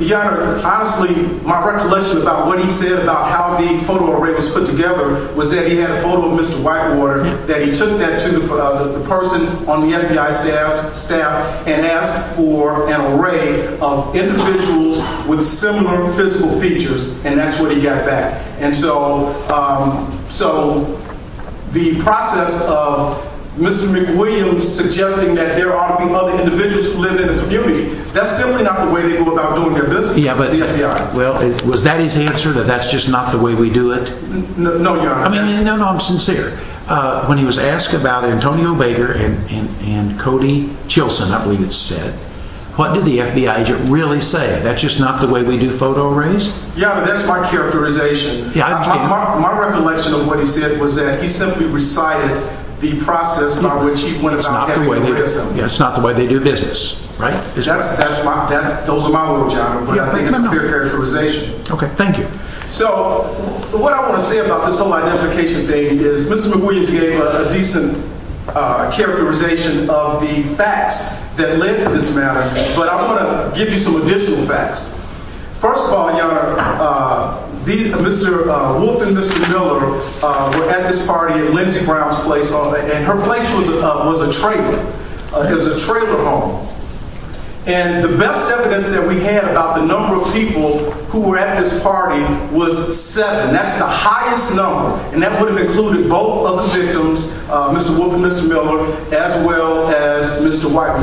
Yeah, honestly, my recollection about what he said about how the photo array was put together was that he had a photo of Mr. Whitewater, that he took that to the person on the FBI staff and asked for an array of individuals with similar physical features, and that's what he got back. And so the process of Mr. McWilliams suggesting that there ought to be other individuals who live in the community, that's simply not the way they go about doing their business with the FBI. Well, was that his answer, that that's just not the way we do it? No, Your Honor. No, no, I'm sincere. When he was asked about Antonio Baker and Cody Chilson, I believe it's said, what did the FBI agent really say? That's just not the way we do photo arrays? Yeah, that's my characterization. My recollection of what he said was that he simply recited the process by which he went about getting rid of someone. It's not the way they do business, right? Those are my words, Your Honor, but I think it's a fair characterization. Okay, thank you. So what I want to say about this whole identification thing is Mr. McWilliams gave a decent characterization of the facts that led to this matter, but I want to give you some additional facts. First of all, Your Honor, Mr. Wolfe and Mr. Miller were at this party at Lindsey Brown's place, and her place was a trailer. It was a trailer home. And the best evidence that we had about the number of people who were at this party was seven. That's the highest number, and that would have included both other victims, Mr. Wolfe and Mr. Miller, as well as Mr. White.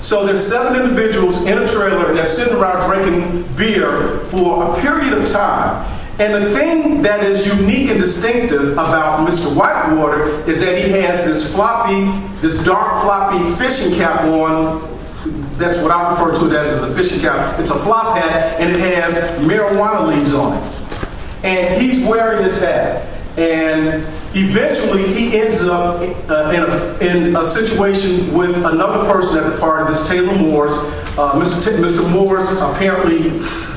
So there's seven individuals in a trailer that's sitting around drinking beer for a period of time. And the thing that is unique and distinctive about Mr. Whitewater is that he has this floppy, this dark floppy fishing cap on. That's what I refer to it as, is a fishing cap. It's a flop hat, and it has marijuana leaves on it. And he's wearing this hat, and eventually he ends up in a situation with another person at the party, Mr. Taylor Morris. Mr. Morris apparently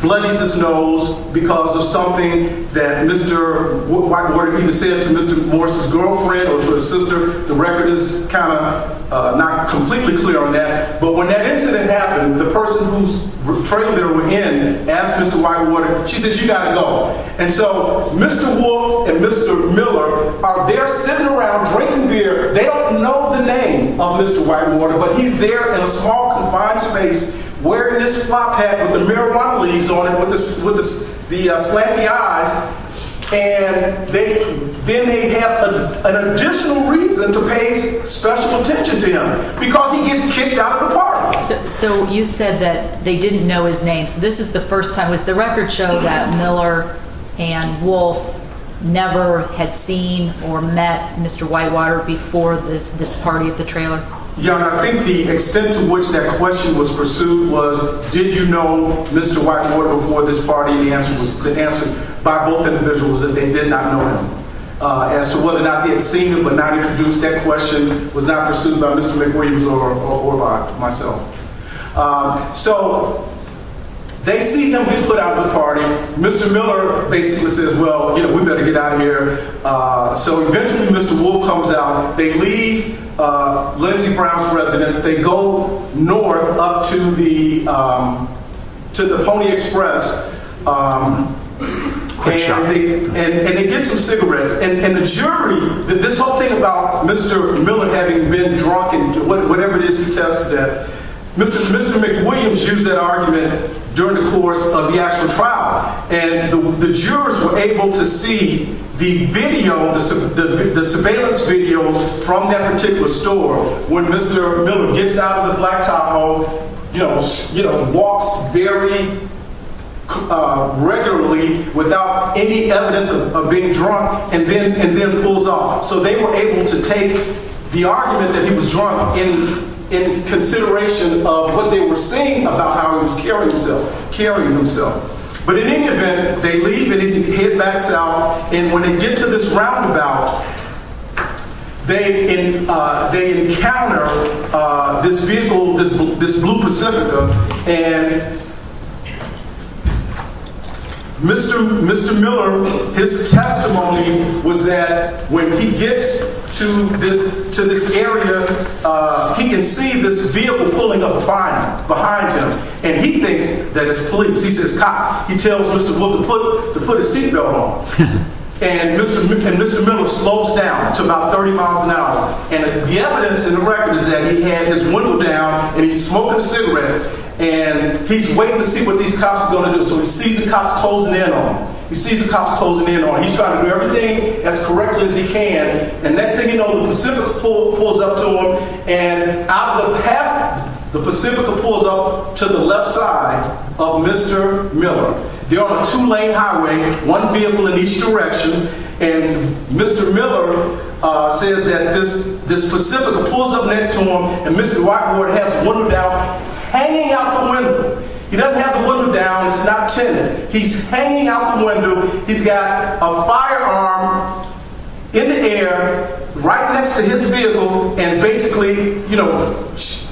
bloodies his nose because of something that Mr. Whitewater either said to Mr. Morris' girlfriend or to his sister. The record is kind of not completely clear on that. But when that incident happened, the person whose trailer they were in asked Mr. Whitewater, she says, you got to go. And so Mr. Wolfe and Mr. Miller are there sitting around drinking beer. They don't know the name of Mr. Whitewater, but he's there in a small, confined space wearing this flop hat with the marijuana leaves on it with the slanty eyes. And then they have an additional reason to pay special attention to him because he gets kicked out of the party. So you said that they didn't know his name. So this is the first time. Does the record show that Miller and Wolfe never had seen or met Mr. Whitewater before this party at the trailer? Young, I think the extent to which that question was pursued was, did you know Mr. Whitewater before this party? The answer was the answer by both individuals that they did not know him as to whether or not they had seen him, but not introduced. That question was not pursued by Mr. McWilliams or by myself. So they see that we put out the party. Mr. Miller basically says, well, you know, we better get out of here. So eventually Mr. Wolfe comes out. They leave Lindsey Brown's residence. They go north up to the to the Pony Express and they get some cigarettes. And the jury that this whole thing about Mr. Miller having been drunk and whatever it is, he tested that Mr. Mr. McWilliams used that argument during the course of the actual trial. And the jurors were able to see the video, the surveillance video from that particular store. When Mr. Miller gets out of the blacktop home, you know, you know, walks very regularly without any evidence of being drunk and then and then pulls off. So they were able to take the argument that he was drunk in consideration of what they were seeing about how he was carrying himself, carrying himself. But in any event, they leave and head back south. And when they get to this roundabout, they they encounter this vehicle, this this blue Pacifica. And Mr. Mr. Miller, his testimony was that when he gets to this to this area, he can see this vehicle pulling up behind him. And he thinks that his police, he says cops, he tells Mr. Will to put to put a seatbelt on and Mr. Mr. Miller slows down to about 30 miles an hour. And the evidence in the record is that he had his window down and he's smoking a cigarette and he's waiting to see what these cops are going to do. So he sees the cops closing in on him. He sees the cops closing in on him. He's trying to do everything as correctly as he can. And next thing you know, the Pacifica pulls up to him and out of the past, the Pacifica pulls up to the left side of Mr. Miller. There are two lane highway, one vehicle in each direction. And Mr. Miller says that this this Pacifica pulls up next to him. And Mr. Whiteboard has wondered out hanging out the window. He doesn't have a window down. He's hanging out the window. He's got a firearm in the air right next to his vehicle. And basically, you know,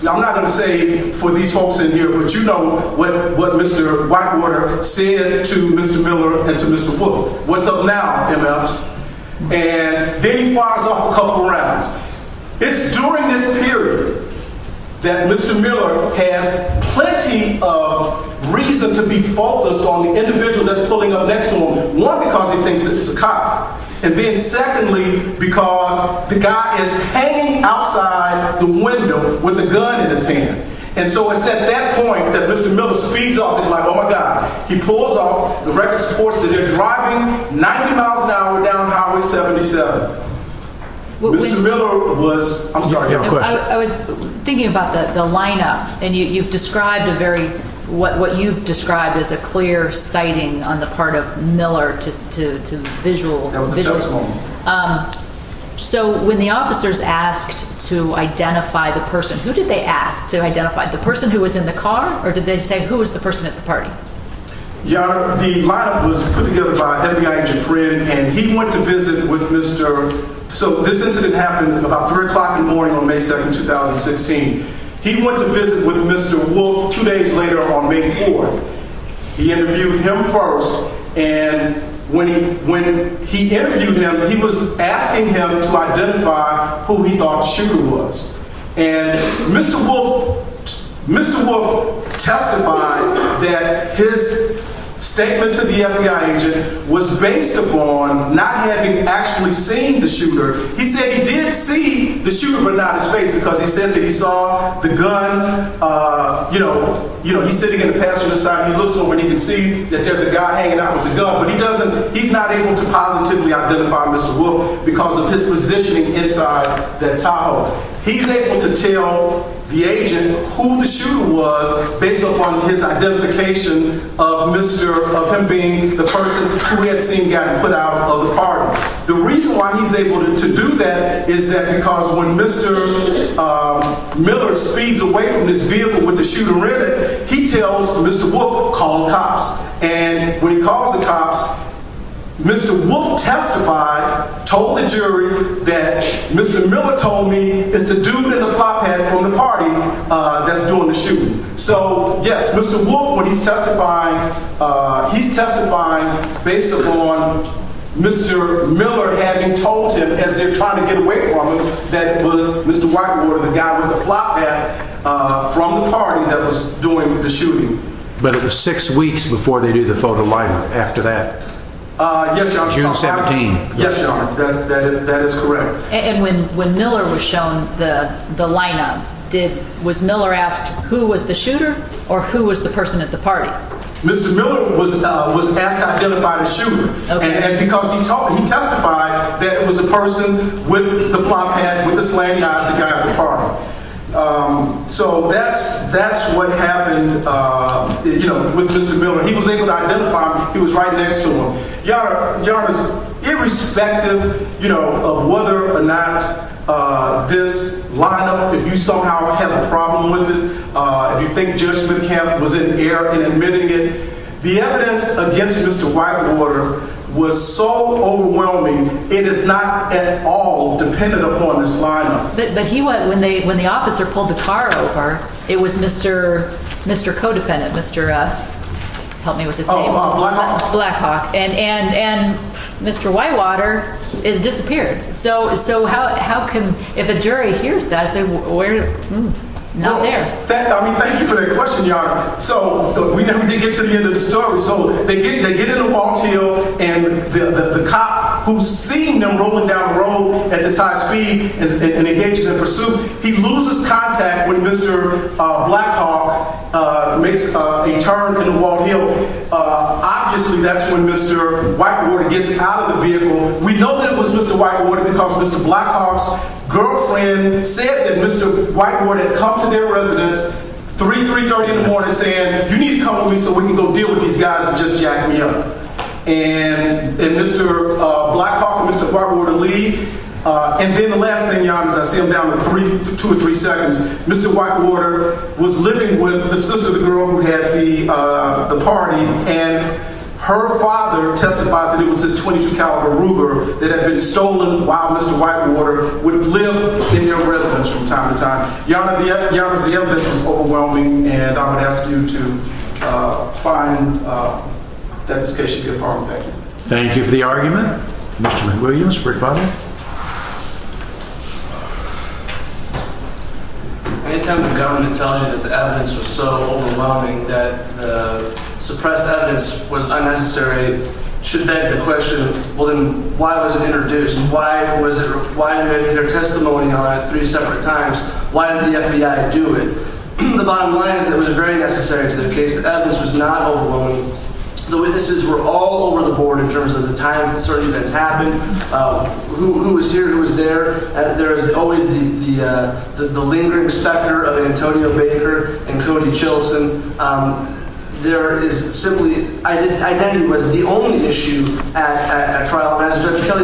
I'm not going to say for these folks in here, but you know what? What Mr. Whitewater said to Mr. Miller and to Mr. What's up now? And then he fires off a couple rounds. It's during this period that Mr. Miller has plenty of reason to be focused on the individual that's pulling up next to him. One, because he thinks it's a cop. And then secondly, because the guy is hanging outside the window with a gun in his hand. And so it's at that point that Mr. Miller speeds up. It's like, oh, my God, he pulls off the record sports and they're driving 90 miles an hour down Highway 77. Mr. Miller was. I was thinking about the lineup and you've described a very what you've described as a clear sighting on the part of Miller to visual. So when the officers asked to identify the person, who did they ask to identify the person who was in the car? Or did they say who was the person at the party? Yeah, the lineup was put together by a FBI agent friend and he went to visit with Mr. So this incident happened about three o'clock in the morning on May 2nd, 2016. He went to visit with Mr. Wolf two days later on May 4th. He interviewed him first. And when he when he interviewed him, he was asking him to identify who he thought she was. And Mr. Wolf, Mr. Wolf testified that his statement to the FBI agent was based upon not having actually seen the shooter. He said he did see the shooter, but not his face, because he said that he saw the gun. You know, you know, he's sitting in the passenger side. He looks over and he can see that there's a guy hanging out with the gun, but he doesn't. He's not able to positively identify Mr. Wolf because of his positioning inside the Tahoe. He's able to tell the agent who the shooter was based upon his identification of Mr. of him being the person we had seen got put out of the party. The reason why he's able to do that is that because when Mr. Miller speeds away from his vehicle with the shooter in it, he tells Mr. Wolf, call the cops. And when he calls the cops, Mr. Wolf testified, told the jury that Mr. Miller told me is the dude in the flop hat from the party that's doing the shooting. So, yes, Mr. Wolf, when he's testifying, he's testifying based upon Mr. Miller having told him as they're trying to get away from him, that was Mr. Whitewater, the guy with the flop hat from the party that was doing the shooting. But it was six weeks before they do the photo line after that. Yes. June 17. Yes. That is correct. And when when Miller was shown the the lineup did was Miller asked who was the shooter or who was the person at the party? Mr. Miller was was asked to identify the shooter because he testified that it was a person with the flop hat with the slaying of the guy at the party. So that's that's what happened with Mr. Miller. He was able to identify he was right next to him. Yeah. Yeah. Irrespective of whether or not this lineup, if you somehow have a problem with it, if you think just the camp was in the air and admitting it, the evidence against Mr. Whitewater was so overwhelming. It is not at all dependent upon this lineup. But he went when they when the officer pulled the car over, it was Mr. Mr. Codefendant, Mr. Help me with this. Blackhawk. And and and Mr. Whitewater is disappeared. So. So how how can if a jury hears that? We're not there. I mean, thank you for that question. So we never did get to the end of the story. So they get they get in a walk to you and the cop who's seen them rolling down the road at this high speed is engaged in pursuit. He loses contact with Mr. Blackhawk makes a turn in Wall Hill. Obviously, that's when Mr. Whitewater gets out of the vehicle. We know that it was Mr. Whitewater because Mr. Blackhawk's girlfriend said that Mr. Whitewater had come to their residence three, three thirty in the morning saying, you need to come with me so we can go deal with these guys and just see. And then the last thing I see them down to three, two or three seconds. Mr. Whitewater was living with the sister of the girl who had the party. And her father testified that it was this 22 caliber Ruger that had been stolen while Mr. Whitewater would live in their residence from time to time. Young young as the evidence was overwhelming. And I would ask you to find that this case should be a farm. Thank you. Thank you for the argument. Mr. Butler. Any kind of government tells you that the evidence was so overwhelming that suppressed evidence was unnecessary. Should that be a question? Well, then why was it introduced? Why was it? Why did their testimony on three separate times? Why did the FBI do it? The bottom line is that it was very necessary to their case. The evidence was not overwhelming. The witnesses were all over the board in terms of the times that certain events happened. Who was here? Who was there? There is always the the lingering specter of Antonio Baker and Cody Chilson. There is simply I think identity was the only issue at a trial. As Judge Kelly,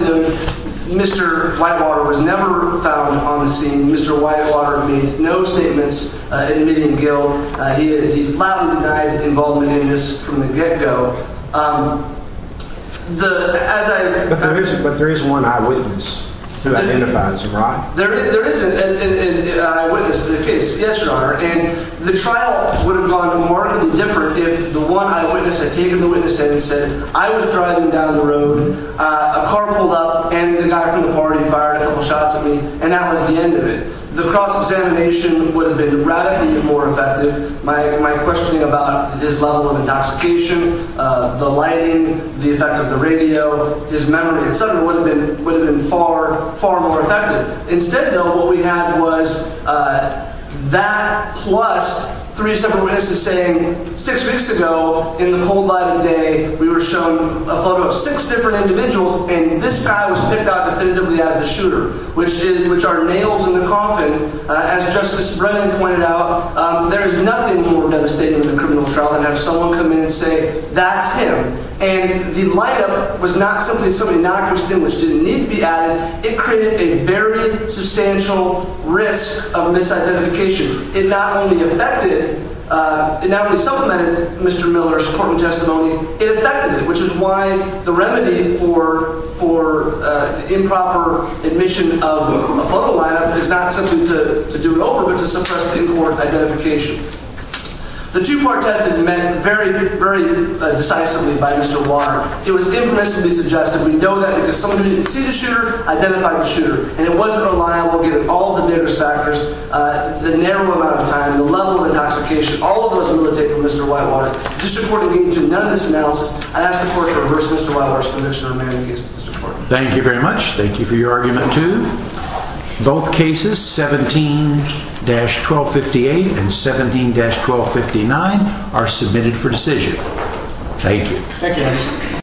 Mr. Whitewater was never found on the scene. Mr. Whitewater made no statements admitting guilt. He flatly denied involvement in this from the get go. But there is but there is one eyewitness who identifies. Right. There is an eyewitness to the case. Yes, Your Honor. And the trial would have gone to mark the difference if the one eyewitness had taken the witness and said I was driving down the road. A car pulled up and the guy from the party fired a couple shots at me. And that was the end of it. The cross-examination would have been radically more effective. My my questioning about his level of intoxication. The lighting, the effect of the radio, his memory, etc. would have been would have been far, far more effective. Instead, though, what we had was that plus three separate witnesses saying six weeks ago in the cold light of day, we were shown a photo of six different individuals. And this guy was picked out definitively as the shooter, which is which are males in the coffin. As Justice Brennan pointed out, there is nothing more devastating than a criminal trial and have someone come in and say that's him. And the light of it was not simply something not distinguished. It didn't need to be added. It created a very substantial risk of misidentification. It not only affected, it not only supplemented Mr. Miller's court testimony, it affected it, which is why the remedy for for improper admission of a photo is not simply to do it over, but to suppress the court identification. The two part test is met very, very decisively by Mr. Water. It was implicitly suggested. We know that because somebody didn't see the shooter, identify the shooter, and it wasn't reliable. Given all the various factors, the narrow amount of time, the level of intoxication, all of those will take from Mr. Whitewater. This report engaged in none of this analysis. I ask the court to reverse Mr. Whitewater's conviction on many cases. Thank you very much. Thank you for your argument, too. Both cases, 17-1258 and 17-1259 are submitted for decision. Thank you. Thank you.